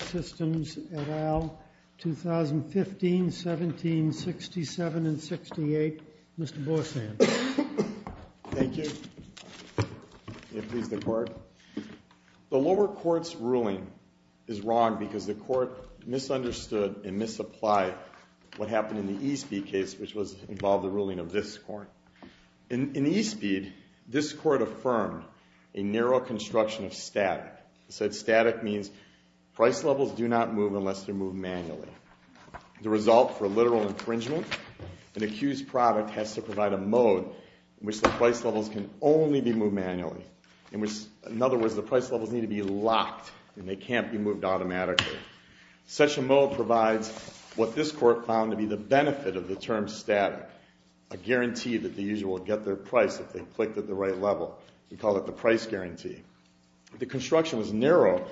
Systems, et al., 2015, 17, 67, and 68. Mr. Borsan. Thank you. May it please the Court. The lower court's ruling is wrong because the court misunderstood and misapplied what happened in the E-Speed case, which involved the ruling of this court. In E-Speed, this court affirmed a narrow construction of static. It said static means price levels do not move unless they're moved manually. The result for literal infringement, an accused product has to provide a mode in which the price levels can only be moved manually. In other words, the price levels need to be locked and they can't be moved automatically. Such a mode provides what this court found to be the benefit of the term static, a guarantee that the user will get their price if they clicked at the right level. We call it the price guarantee. The construction was narrow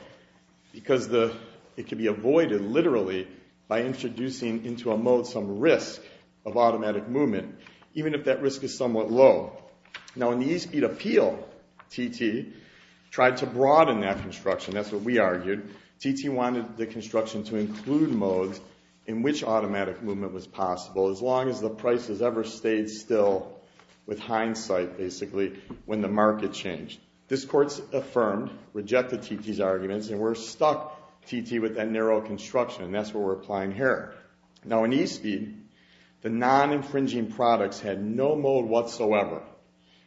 because it could be avoided, literally, by introducing into a mode some risk of automatic movement, even if that risk is somewhat low. Now, in the E-Speed appeal, TT tried to broaden that construction. That's what we argued. TT wanted the construction to include modes in which automatic movement was possible as long as the price has ever stayed still with hindsight, basically, when the market changed. This court affirmed, rejected TT's arguments, and we're stuck, TT, with that narrow construction, and that's what we're applying here. Now, in E-Speed, the non-infringing products had no mode whatsoever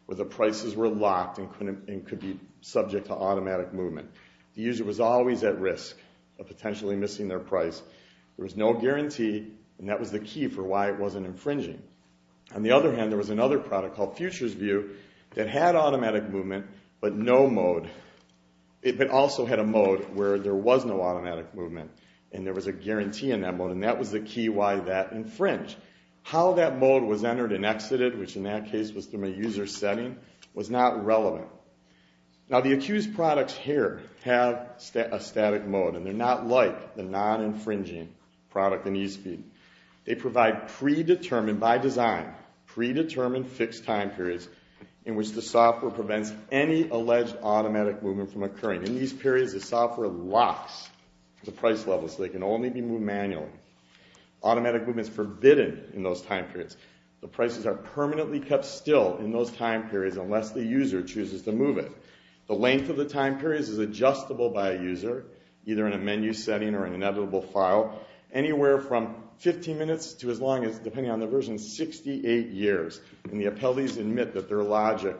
where the prices were locked and could be subject to automatic movement. The user was always at risk of potentially missing their price. There was no guarantee, and that was the key for why it wasn't infringing. On the other hand, there was another product called Futures View that had automatic movement, but no mode. It also had a mode where there was no automatic movement, and there was a guarantee in that mode, and that was the key why that infringed. How that mode was entered and exited, which in that case was from a user setting, was not relevant. Now, the accused products here have a static mode, and they're not like the non-infringing product in E-Speed. They provide predetermined, by design, predetermined fixed time periods in which the software prevents any alleged automatic movement from occurring. In these periods, the software locks the price levels so they can only be moved manually. Automatic movement is forbidden in those time periods. The prices are permanently kept still in those time periods unless the user chooses to move it. The length of the time periods is adjustable by a user, either in a menu setting or in an editable file, anywhere from 15 minutes to as long as, depending on the version, 68 years. And the appellees admit that their logic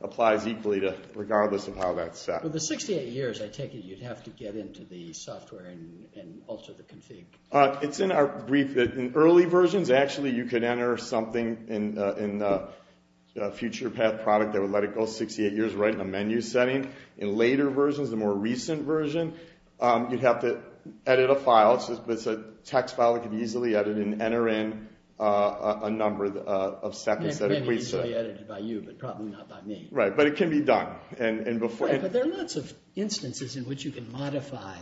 applies equally regardless of how that's set. With the 68 years, I take it you'd have to get into the software and alter the config. It's in our brief that in early versions, actually, you could enter something in a FuturePath product that would let it go 68 years right in a menu setting. In later versions, the more recent version, you'd have to edit a file. It's a text file that could be easily edited and enter in a number of seconds. It may be easily edited by you, but probably not by me. Right, but it can be done. There are lots of instances in which you can modify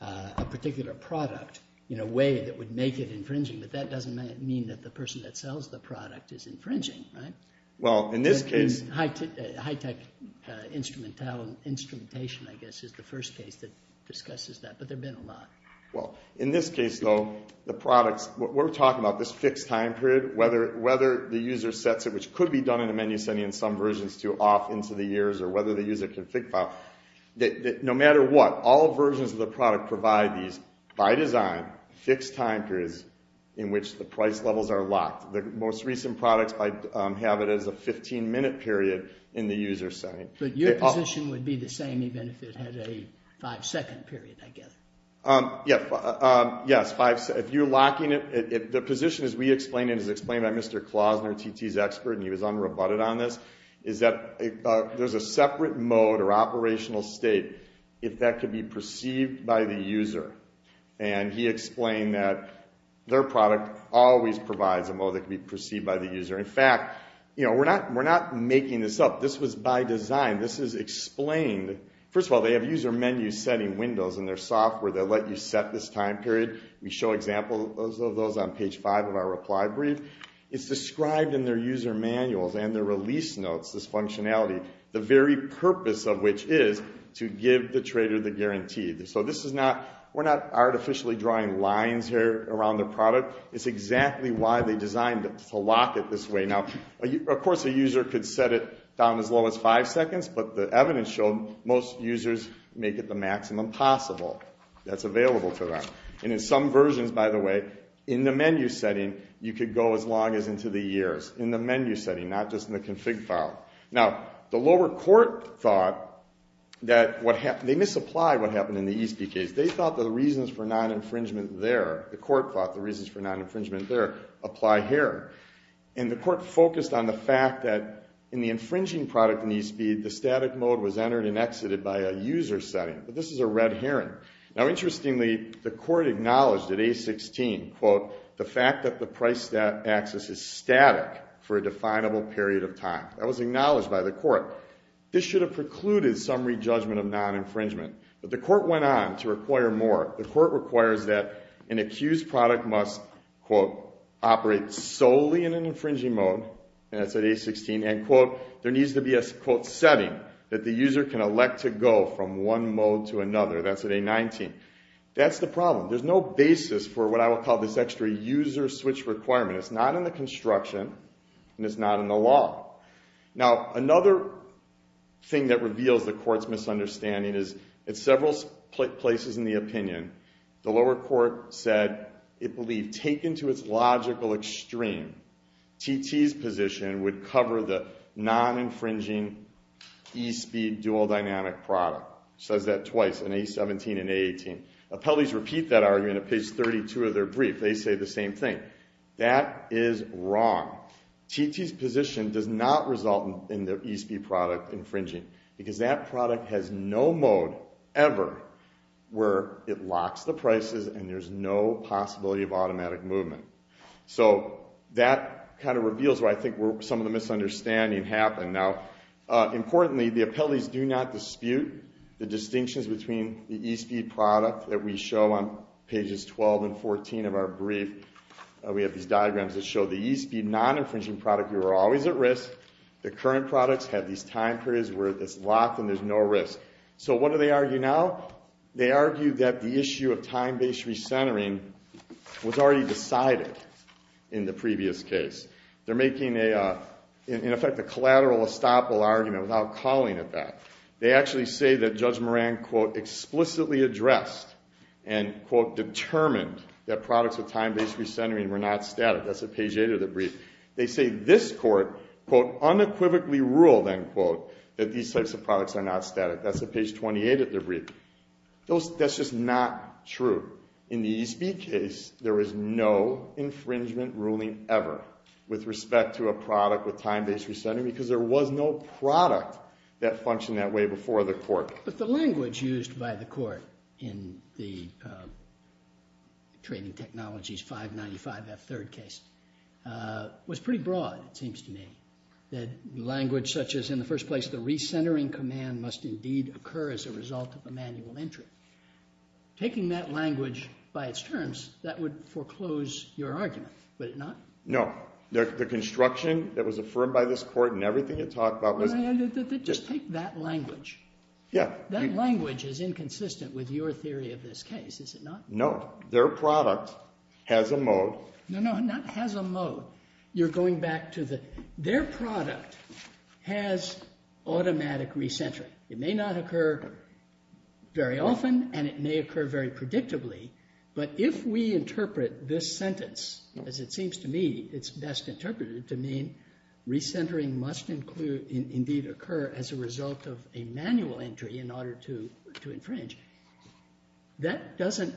a particular product in a way that would make it infringing, but that doesn't mean that the person that sells the product is infringing, right? Well, in this case— High-tech instrumentation, I guess, is the first case that discusses that, but there have been a lot. Well, in this case, though, the products—we're talking about this fixed time period, whether the user sets it, which could be done in a menu setting in some versions to off into the years, or whether the user config file. No matter what, all versions of the product provide these, by design, fixed time periods in which the price levels are locked. The most recent products have it as a 15-minute period in the user setting. But your position would be the same even if it had a five-second period, I guess. Yes, if you're locking it—the position, as we explained it, as explained by Mr. Klausner, TT's expert, and he was unrebutted on this, is that there's a separate mode or operational state if that could be perceived by the user. And he explained that their product always provides a mode that can be perceived by the user. In fact, we're not making this up. This was by design. This is explained—first of all, they have user menu setting windows in their software that let you set this time period. We show examples of those on page 5 of our reply brief. It's described in their user manuals and their release notes, this functionality, the very purpose of which is to give the trader the guarantee. So this is not—we're not artificially drawing lines here around the product. It's exactly why they designed it, to lock it this way. Now, of course, a user could set it down as low as five seconds, but the evidence showed most users make it the maximum possible that's available to them. And in some versions, by the way, in the menu setting, you could go as long as into the years in the menu setting, not just in the config file. Now, the lower court thought that what—they misapplied what happened in the ESP case. They thought the reasons for non-infringement there—the court thought the reasons for non-infringement there apply here. And the court focused on the fact that in the infringing product in ESP, the static mode was entered and exited by a user setting. But this is a red herring. Now, interestingly, the court acknowledged at A16, quote, the fact that the price access is static for a definable period of time. That was acknowledged by the court. This should have precluded some re-judgment of non-infringement. But the court went on to require more. The court requires that an accused product must, quote, operate solely in an infringing mode, and that's at A16, end quote. There needs to be a, quote, setting that the user can elect to go from one mode to another. That's at A19. That's the problem. There's no basis for what I will call this extra user switch requirement. It's not in the construction, and it's not in the law. Now, another thing that reveals the court's misunderstanding is at several places in the opinion, the lower court said it believed taken to its logical extreme, TT's position would cover the non-infringing ESP dual dynamic product. It says that twice, in A17 and A18. Appellees repeat that argument at page 32 of their brief. They say the same thing. That is wrong. TT's position does not result in the ESP product infringing because that product has no mode ever where it locks the prices and there's no possibility of automatic movement. So that kind of reveals where I think some of the misunderstanding happened. Now, importantly, the appellees do not dispute the distinctions between the ESP product that we show on pages 12 and 14 of our brief. We have these diagrams that show the ESP non-infringing product, you are always at risk. The current products have these time periods where it's locked and there's no risk. So what do they argue now? They argue that the issue of time-based recentering was already decided in the previous case. They're making, in effect, a collateral estoppel argument without calling it that. They actually say that Judge Moran, quote, explicitly addressed and, quote, determined that products with time-based recentering were not static. That's at page 8 of the brief. They say this court, quote, unequivocally ruled, end quote, that these types of products are not static. That's at page 28 of the brief. That's just not true. In the ESP case, there is no infringement ruling ever with respect to a product with time-based recentering because there was no product that functioned that way before the court. But the language used by the court in the Trading Technologies 595F third case was pretty broad, it seems to me, that language such as, in the first place, the recentering command must indeed occur as a result of a manual entry. Taking that language by its terms, that would foreclose your argument, would it not? No. The construction that was affirmed by this court and everything it talked about was – Just take that language. Yeah. That language is inconsistent with your theory of this case, is it not? No. Their product has a mode – No, no, not has a mode. You're going back to the – their product has automatic recentering. It may not occur very often and it may occur very predictably, but if we interpret this sentence, as it seems to me it's best interpreted to mean recentering must indeed occur as a result of a manual entry in order to infringe, that doesn't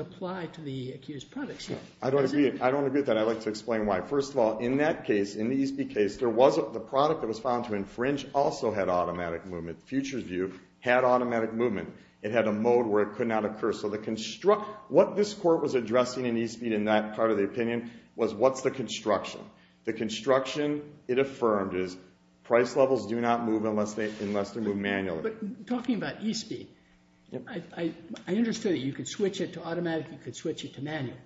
apply to the accused products. I don't agree with that. I'd like to explain why. First of all, in that case, in the ESB case, the product that was found to infringe also had automatic movement. Futures View had automatic movement. It had a mode where it could not occur. So the – what this court was addressing in ESB in that part of the opinion was what's the construction? The construction it affirmed is price levels do not move unless they move manually. But talking about ESB, I understood that you could switch it to automatic, you could switch it to manual.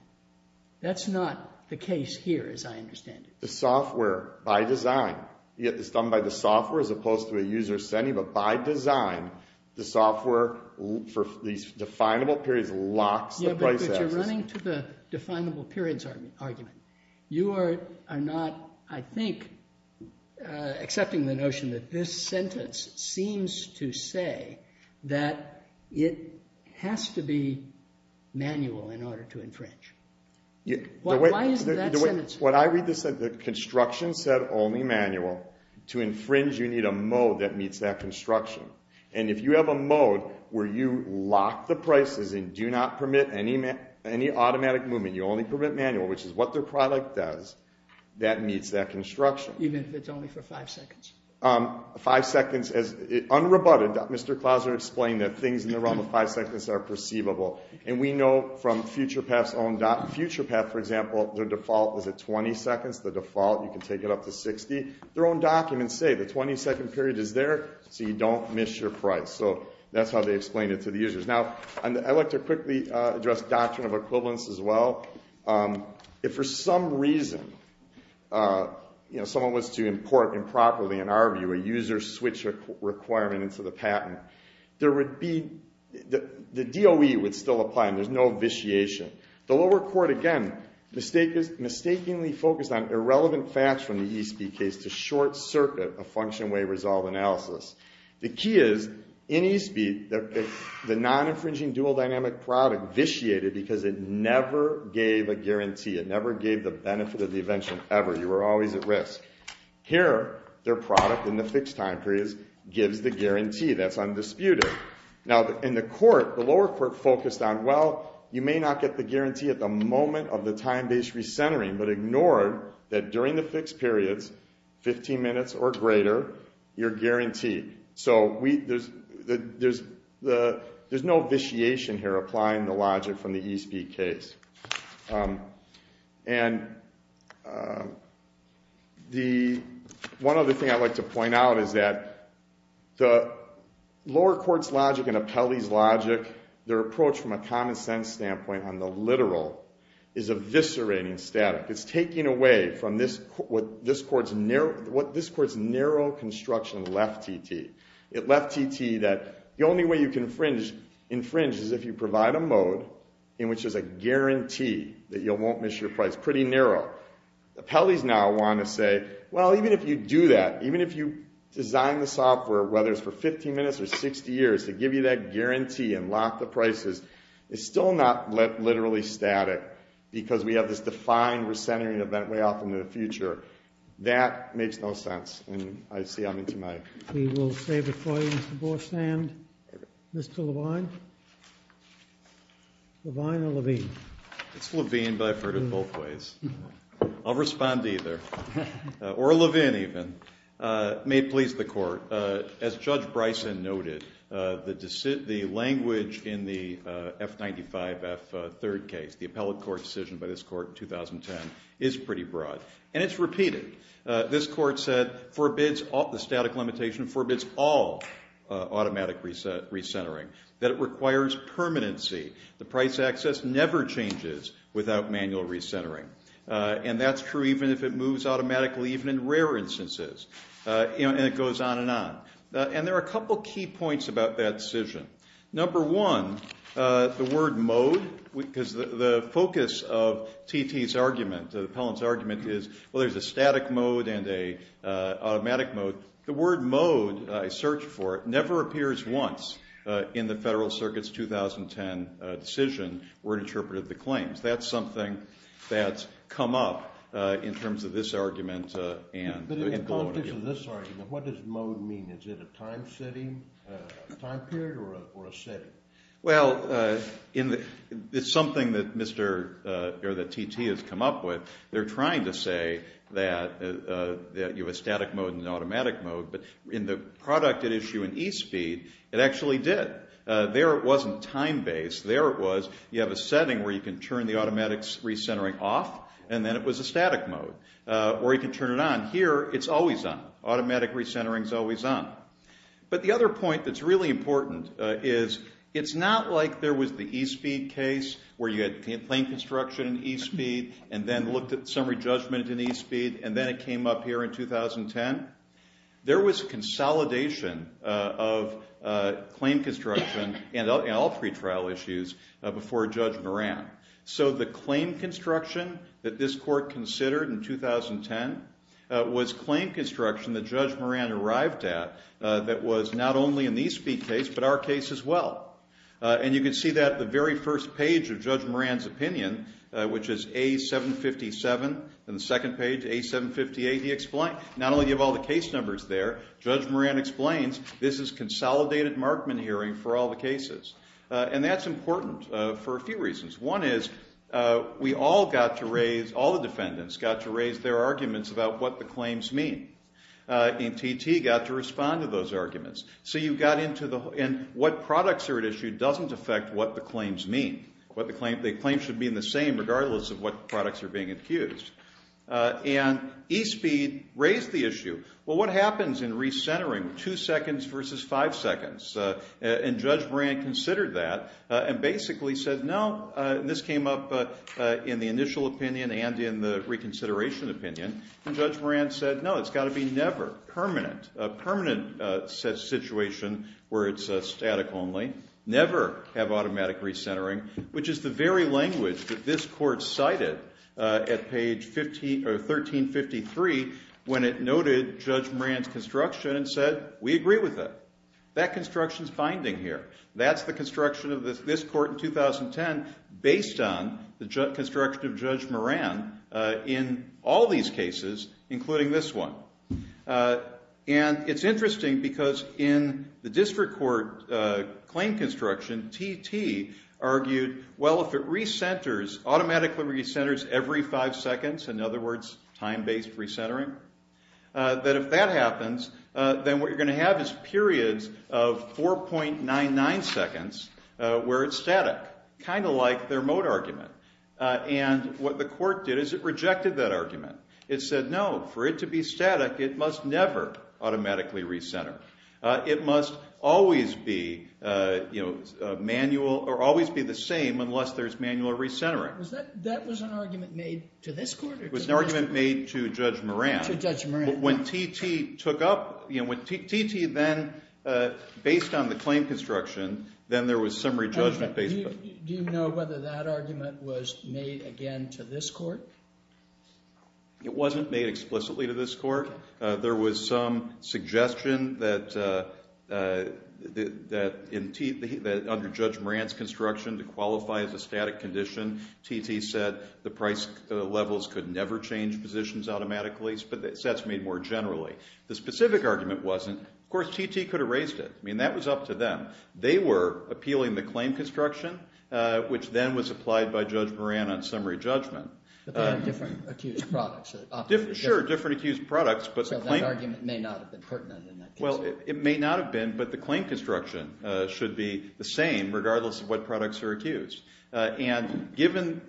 That's not the case here, as I understand it. The software, by design – it's done by the software as opposed to a user setting, but by design, the software for these definable periods locks the price axis. But you're running to the definable periods argument. You are not, I think, accepting the notion that this sentence seems to say that it has to be manual in order to infringe. Why is that sentence – When I read this, the construction said only manual. To infringe, you need a mode that meets that construction. And if you have a mode where you lock the prices and do not permit any automatic movement, you only permit manual, which is what their product does, that meets that construction. Even if it's only for five seconds? Five seconds. Unrebutted, Mr. Clauser explained that things in the realm of five seconds are perceivable. And we know from FuturePath's own – FuturePath, for example, their default is at 20 seconds. The default, you can take it up to 60. Their own documents say the 20-second period is there so you don't miss your price. So that's how they explain it to the users. Now, I'd like to quickly address doctrine of equivalence as well. If for some reason someone was to import improperly, in our view, a user switch requirement into the patent, the DOE would still apply and there's no vitiation. The lower court, again, mistakenly focused on irrelevant facts from the Eastby case to short-circuit a function-way resolve analysis. The key is, in Eastby, the non-infringing dual-dynamic product vitiated because it never gave a guarantee. It never gave the benefit of the invention ever. You were always at risk. Here, their product in the fixed-time period gives the guarantee. That's undisputed. Now, in the court, the lower court focused on, well, you may not get the guarantee at the moment of the time-based recentering, but ignored that during the fixed periods, 15 minutes or greater, you're guaranteed. So there's no vitiation here applying the logic from the Eastby case. And the one other thing I'd like to point out is that the lower court's logic and Apelli's logic, their approach from a common-sense standpoint on the literal, is eviscerating static. It's taking away from what this court's narrow construction left TT. It left TT that the only way you can infringe is if you provide a mode in which there's a guarantee that you won't miss your price. Pretty narrow. Apelli's now wanting to say, well, even if you do that, even if you design the software, whether it's for 15 minutes or 60 years, to give you that guarantee and lock the prices, it's still not literally static because we have this defined recentering event way off into the future. That makes no sense. We will save it for you, Mr. Borsand. Mr. Levine? Levine or Levine? It's Levine, but I've heard it both ways. I'll respond to either. Or Levine, even. May it please the court, as Judge Bryson noted, the language in the F95F third case, the appellate court decision by this court in 2010, is pretty broad. And it's repeated. This court said the static limitation forbids all automatic recentering, that it requires permanency. The price access never changes without manual recentering. And that's true even if it moves automatically, even in rare instances. And it goes on and on. And there are a couple key points about that decision. Number one, the word mode, because the focus of T.T.'s argument, the appellant's argument, is, well, there's a static mode and an automatic mode. The word mode, I searched for it, never appears once in the Federal Circuit's 2010 decision where it interpreted the claims. That's something that's come up in terms of this argument. But in the context of this argument, what does mode mean? Is it a time period or a setting? Well, it's something that T.T. has come up with. They're trying to say that you have a static mode and an automatic mode. But in the product at issue in eSpeed, it actually did. There it wasn't time-based. There it was. You have a setting where you can turn the automatic recentering off, and then it was a static mode. Or you can turn it on. Here, it's always on. Automatic recentering is always on. But the other point that's really important is it's not like there was the eSpeed case, where you had claim construction in eSpeed and then looked at summary judgment in eSpeed, and then it came up here in 2010. There was consolidation of claim construction in all three trial issues before Judge Moran. So the claim construction that this court considered in 2010 was claim construction that Judge Moran arrived at that was not only in the eSpeed case but our case as well. And you can see that on the very first page of Judge Moran's opinion, which is A757. On the second page, A758, not only do you have all the case numbers there, Judge Moran explains this is a consolidated Markman hearing for all the cases. And that's important for a few reasons. One is we all got to raise, all the defendants got to raise their arguments about what the claims mean. And T.T. got to respond to those arguments. And what products are at issue doesn't affect what the claims mean. The claims should be the same regardless of what products are being accused. And eSpeed raised the issue. Well, what happens in recentering, two seconds versus five seconds? And Judge Moran considered that and basically said, no, this came up in the initial opinion and in the reconsideration opinion. And Judge Moran said, no, it's got to be never, permanent, a permanent situation where it's static only, never have automatic recentering, which is the very language that this court cited at page 1353 when it noted Judge Moran's construction and said, we agree with it. That construction is binding here. That's the construction of this court in 2010 based on the construction of Judge Moran in all these cases, including this one. And it's interesting because in the district court claim construction, T.T. argued, well, if it re-centers, automatically re-centers every five seconds, in other words, time-based recentering, that if that happens, then what you're going to have is periods of 4.99 seconds where it's static, kind of like their Moat argument. And what the court did is it rejected that argument. It said, no, for it to be static, it must never automatically re-center. It must always be manual or always be the same unless there's manual re-centering. All right. That was an argument made to this court? It was an argument made to Judge Moran. To Judge Moran. When T.T. took up, when T.T. then, based on the claim construction, then there was some re-judgment. Do you know whether that argument was made, again, to this court? It wasn't made explicitly to this court. There was some suggestion that under Judge Moran's construction to qualify as a static condition, T.T. said the price levels could never change positions automatically, but that's made more generally. The specific argument wasn't. Of course, T.T. could have raised it. I mean, that was up to them. They were appealing the claim construction, which then was applied by Judge Moran on summary judgment. But they had different accused products. Sure, different accused products. So that argument may not have been pertinent in that case. Well, it may not have been, but the claim construction should be the same regardless of what products are accused. And given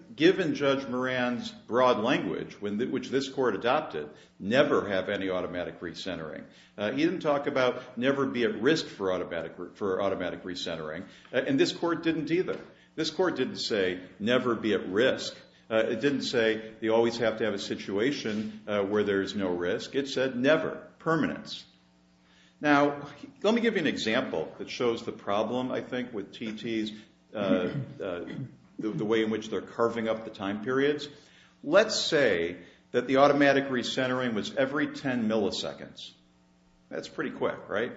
Judge Moran's broad language, which this court adopted, never have any automatic re-centering. He didn't talk about never be at risk for automatic re-centering, and this court didn't either. This court didn't say never be at risk. It didn't say you always have to have a situation where there's no risk. It said never, permanence. Now, let me give you an example that shows the problem, I think, with T.T.'s, the way in which they're carving up the time periods. Let's say that the automatic re-centering was every 10 milliseconds. That's pretty quick, right?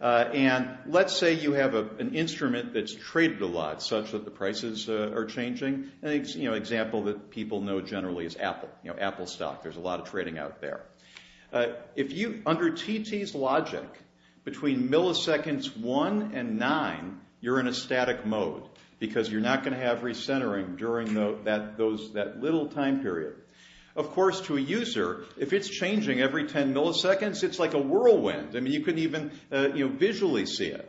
And let's say you have an instrument that's traded a lot such that the prices are changing. An example that people know generally is Apple, Apple stock. There's a lot of trading out there. If you, under T.T.'s logic, between milliseconds 1 and 9, you're in a static mode because you're not going to have re-centering during that little time period. Of course, to a user, if it's changing every 10 milliseconds, it's like a whirlwind. I mean, you can even visually see it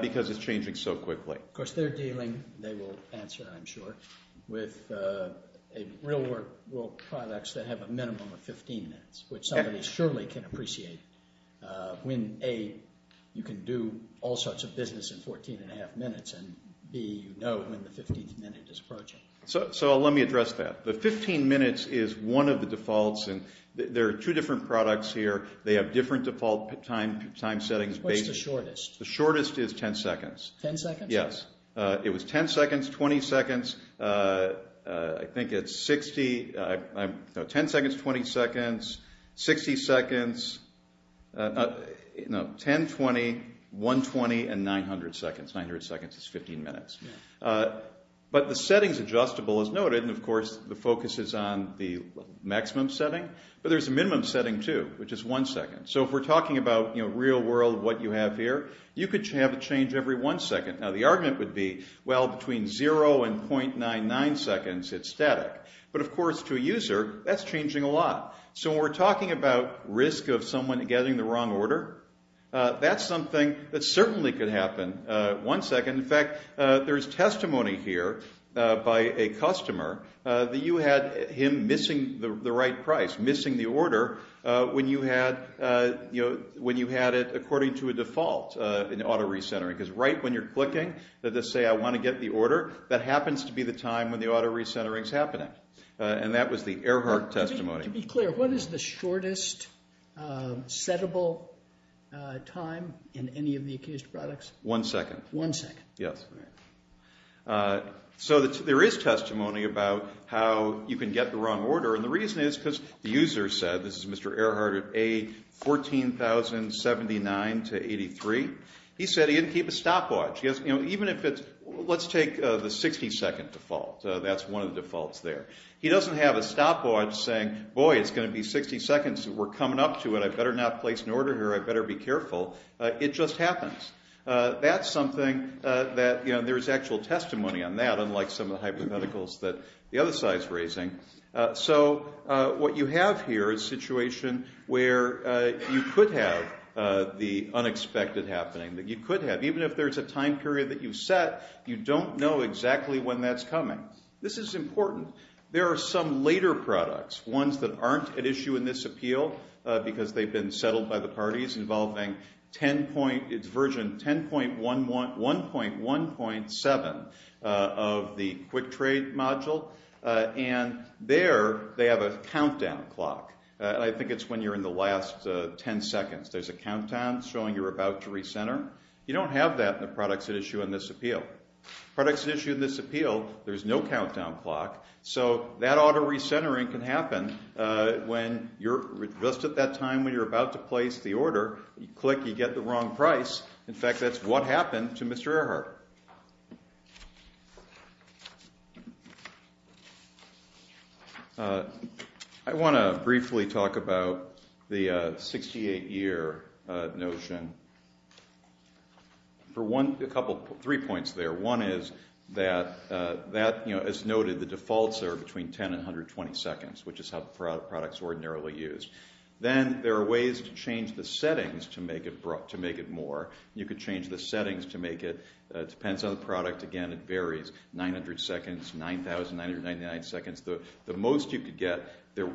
because it's changing so quickly. Of course, they're dealing, they will answer, I'm sure, with real world products that have a minimum of 15 minutes, which somebody surely can appreciate when, A, you can do all sorts of business in 14 and a half minutes, and, B, you know when the 15th minute is approaching. So let me address that. The 15 minutes is one of the defaults. There are two different products here. They have different default time settings. What's the shortest? The shortest is 10 seconds. 10 seconds? Yes. It was 10 seconds, 20 seconds, I think it's 60, no, 10 seconds, 20 seconds, 60 seconds, no, 10, 20, 120, and 900 seconds. 900 seconds is 15 minutes. But the settings adjustable is noted, and, of course, the focus is on the maximum setting. But there's a minimum setting, too, which is one second. So if we're talking about real world, what you have here, you could have a change every one second. Now, the argument would be, well, between zero and .99 seconds, it's static. But, of course, to a user, that's changing a lot. So when we're talking about risk of someone getting the wrong order, that's something that certainly could happen one second. In fact, there's testimony here by a customer that you had him missing the right price, missing the order when you had it according to a default in auto recentering. Because right when you're clicking to say, I want to get the order, that happens to be the time when the auto recentering is happening. And that was the Earhart testimony. To be clear, what is the shortest settable time in any of the accused products? One second. One second. Yes. So there is testimony about how you can get the wrong order. And the reason is because the user said, this is Mr. Earhart at A, 14,079 to 83. He said he didn't keep a stopwatch. Even if it's, let's take the 60 second default. That's one of the defaults there. He doesn't have a stopwatch saying, boy, it's going to be 60 seconds. We're coming up to it. I better not place an order here. I better be careful. It just happens. That's something that, you know, there's actual testimony on that, unlike some of the hypotheticals that the other side is raising. So what you have here is a situation where you could have the unexpected happening, that you could have. Even if there's a time period that you've set, you don't know exactly when that's coming. This is important. There are some later products, ones that aren't at issue in this appeal, because they've been settled by the parties, involving 10 point, it's version 10.11, 1.1.7 of the quick trade module. And there they have a countdown clock. I think it's when you're in the last 10 seconds. There's a countdown showing you're about to recenter. You don't have that in the products at issue in this appeal. Products at issue in this appeal, there's no countdown clock. So that auto recentering can happen just at that time when you're about to place the order. You click, you get the wrong price. In fact, that's what happened to Mr. Earhart. I want to briefly talk about the 68-year notion. Three points there. One is that, as noted, the defaults are between 10 and 120 seconds, which is how products ordinarily use. Then there are ways to change the settings to make it more. You could change the settings to make it depends on the product. Again, it varies, 900 seconds, 9,999 seconds. The most you could get,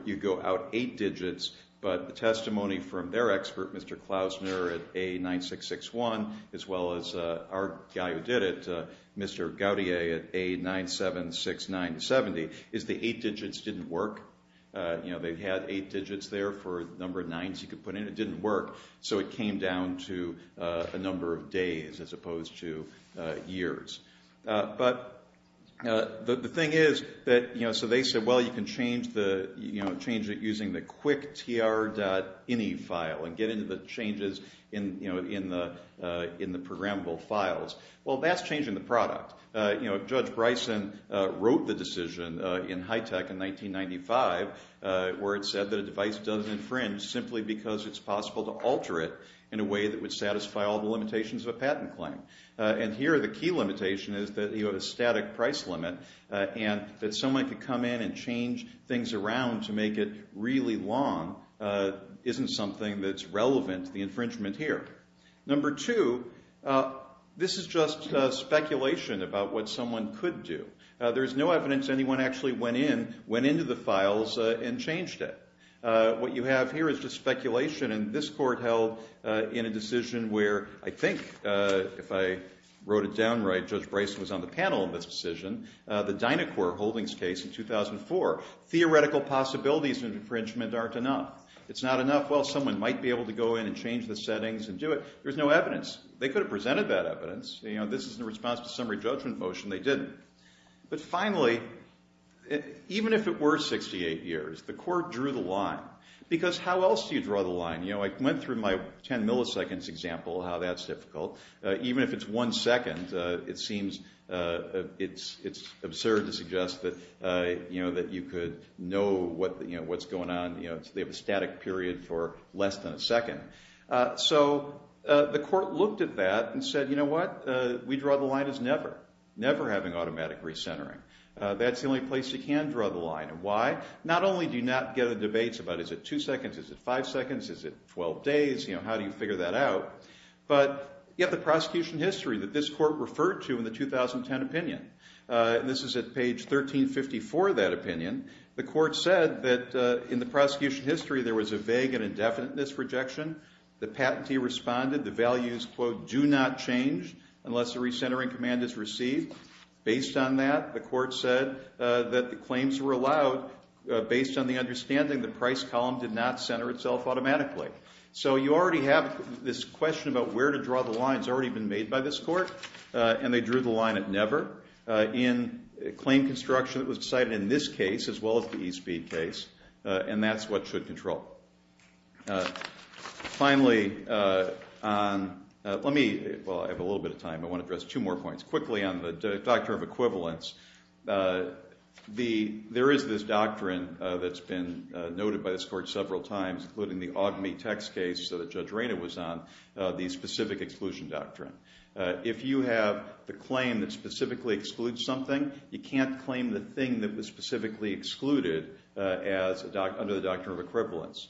you go out eight digits. But the testimony from their expert, Mr. Klausner, at A9661, as well as our guy who did it, Mr. Gaudier, at A976970, is the eight digits didn't work. They had eight digits there for the number of nines you could put in. It didn't work. So it came down to a number of days as opposed to years. But the thing is, so they said, well, you can change it using the quicktr.ini file and get into the changes in the programmable files. Well, that's changing the product. Judge Bryson wrote the decision in HITECH in 1995 where it said that a device doesn't infringe simply because it's possible to alter it in a way that would satisfy all the limitations of a patent claim. And here the key limitation is that you have a static price limit and that someone could come in and change things around to make it really long isn't something that's relevant to the infringement here. Number two, this is just speculation about what someone could do. There's no evidence anyone actually went into the files and changed it. What you have here is just speculation. And this court held in a decision where I think, if I wrote it down right, Judge Bryson was on the panel in this decision, the Dynacor Holdings case in 2004. Theoretical possibilities of infringement aren't enough. It's not enough. Well, someone might be able to go in and change the settings and do it. There's no evidence. They could have presented that evidence. This is in response to a summary judgment motion. They didn't. But finally, even if it were 68 years, the court drew the line. Because how else do you draw the line? I went through my 10 milliseconds example, how that's difficult. Even if it's one second, it seems it's absurd to suggest that you could know what's going on. They have a static period for less than a second. So the court looked at that and said, you know what, we draw the line as never. We're never having automatic recentering. That's the only place you can draw the line. And why? Not only do you not get a debate about is it two seconds, is it five seconds, is it 12 days, you know, how do you figure that out? But you have the prosecution history that this court referred to in the 2010 opinion. This is at page 1354 of that opinion. The court said that in the prosecution history there was a vague and indefinite misrejection. The patentee responded. The values, quote, do not change unless the recentering command is received. Based on that, the court said that the claims were allowed based on the understanding the price column did not center itself automatically. So you already have this question about where to draw the lines already been made by this court, and they drew the line at never. In claim construction, it was decided in this case as well as the e-speed case, and that's what should control. Finally, let me, well, I have a little bit of time. I want to address two more points. Quickly on the doctrine of equivalence, there is this doctrine that's been noted by this court several times, including the Ogme text case that Judge Rayna was on, the specific exclusion doctrine. If you have the claim that specifically excludes something, you can't claim the thing that was specifically excluded under the doctrine of equivalence.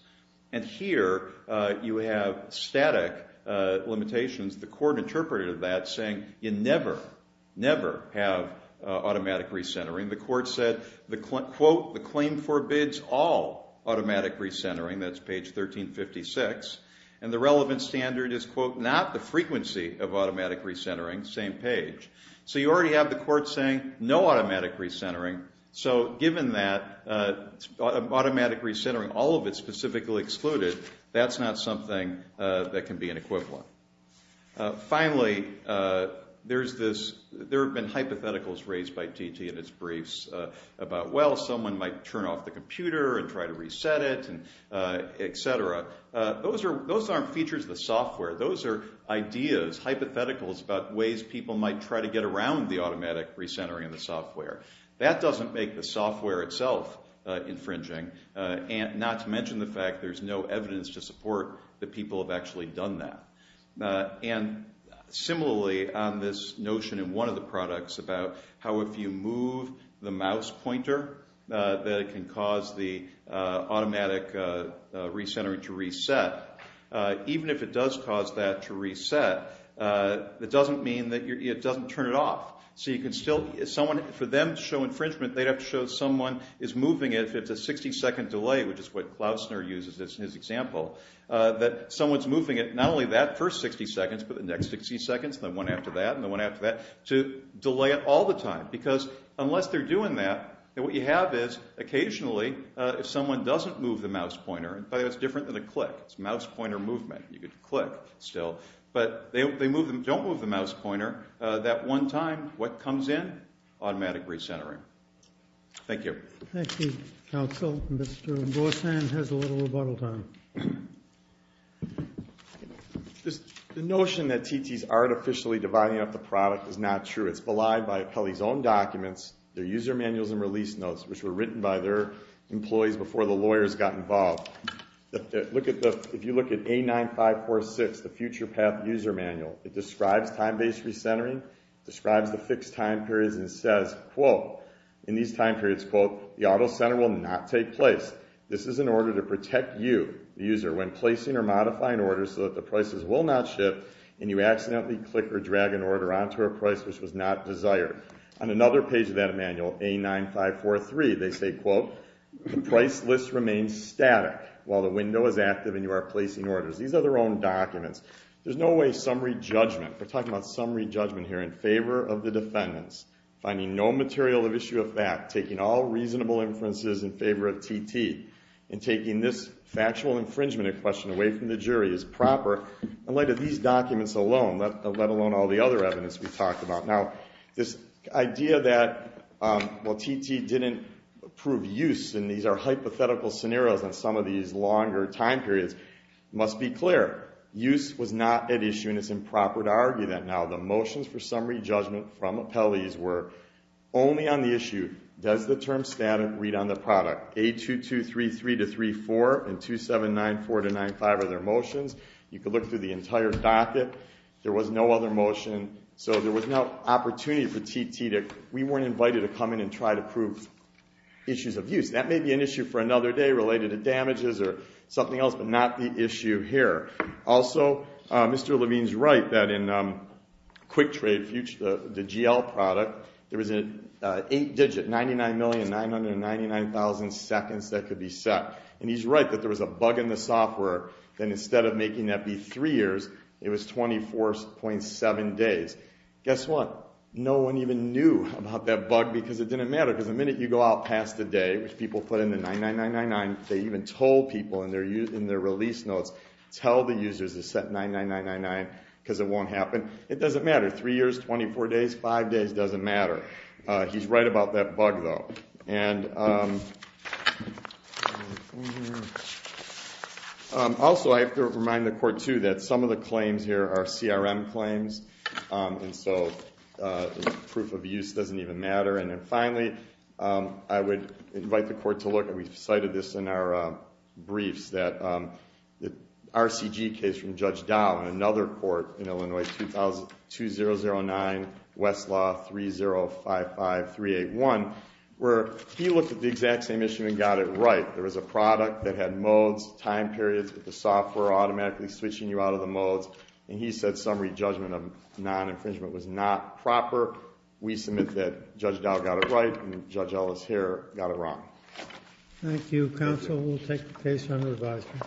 And here you have static limitations. The court interpreted that saying you never, never have automatic recentering. The court said, quote, the claim forbids all automatic recentering. That's page 1356. And the relevant standard is, quote, not the frequency of automatic recentering, same page. So you already have the court saying no automatic recentering. So given that automatic recentering, all of it specifically excluded, that's not something that can be an equivalent. Finally, there have been hypotheticals raised by TT in its briefs about, well, someone might turn off the computer and try to reset it, et cetera. Those aren't features of the software. Those are ideas, hypotheticals about ways people might try to get around the automatic recentering of the software. That doesn't make the software itself infringing, not to mention the fact there's no evidence to support that people have actually done that. And similarly, this notion in one of the products about how if you move the mouse pointer, that it can cause the automatic recentering to reset. Even if it does cause that to reset, it doesn't mean that it doesn't turn it off. So you can still – someone – for them to show infringement, they'd have to show someone is moving it. If it's a 60-second delay, which is what Klausner uses as his example, that someone's moving it, not only that first 60 seconds, but the next 60 seconds and the one after that and the one after that, to delay it all the time. Because unless they're doing that, what you have is occasionally if someone doesn't move the mouse pointer – by the way, it's different than a click. It's mouse pointer movement. You can click still. But they don't move the mouse pointer. That one time, what comes in? Automatic recentering. Thank you. Thank you, counsel. Mr. Gorsan has a little rebuttal time. The notion that TT's artificially dividing up the product is not true. It's belied by Apelli's own documents, their user manuals and release notes, which were written by their employees before the lawyers got involved. If you look at A9546, the future path user manual, it describes time-based recentering, describes the fixed time periods and says, quote, in these time periods, quote, the auto center will not take place. This is in order to protect you, the user, when placing or modifying orders so that the prices will not shift and you accidentally click or drag an order onto a price which was not desired. On another page of that manual, A9543, they say, quote, the price list remains static while the window is active and you are placing orders. These are their own documents. There's no way summary judgment – we're talking about summary judgment here – in favor of the defendants, finding no material of issue of fact, taking all reasonable inferences in favor of TT, and taking this factual infringement question away from the jury is proper. In light of these documents alone, let alone all the other evidence we've talked about. Now, this idea that, well, TT didn't approve use, and these are hypothetical scenarios on some of these longer time periods, must be clear. Use was not at issue, and it's improper to argue that now. The motions for summary judgment from appellees were only on the issue, does the term static read on the product? A2233-34 and 2794-95 are their motions. You could look through the entire docket. There was no other motion, so there was no opportunity for TT to – we weren't invited to come in and try to prove issues of use. That may be an issue for another day related to damages or something else, but not the issue here. Also, Mr. Levine's right that in QuickTrade, the GL product, there was an 8-digit 99,999,000 seconds that could be set. He's right that there was a bug in the software, and instead of making that be 3 years, it was 24.7 days. Guess what? No one even knew about that bug because it didn't matter, because the minute you go out past the day, which people put in the 99,999, they even told people in their release notes, tell the users to set 99,999 because it won't happen. It doesn't matter. 3 years, 24 days, 5 days, doesn't matter. He's right about that bug, though. Also, I have to remind the Court, too, that some of the claims here are CRM claims, and so proof of use doesn't even matter. And then finally, I would invite the Court to look, and we've cited this in our briefs, that the RCG case from Judge Dow in another court in Illinois, 2002-009, Westlaw, 3055-381, where he looked at the exact same issue and got it right. There was a product that had modes, time periods, but the software automatically switching you out of the modes, and he said summary judgment of non-infringement was not proper. We submit that Judge Dow got it right and Judge Ellis here got it wrong. Thank you, counsel. We'll take the case under advisement.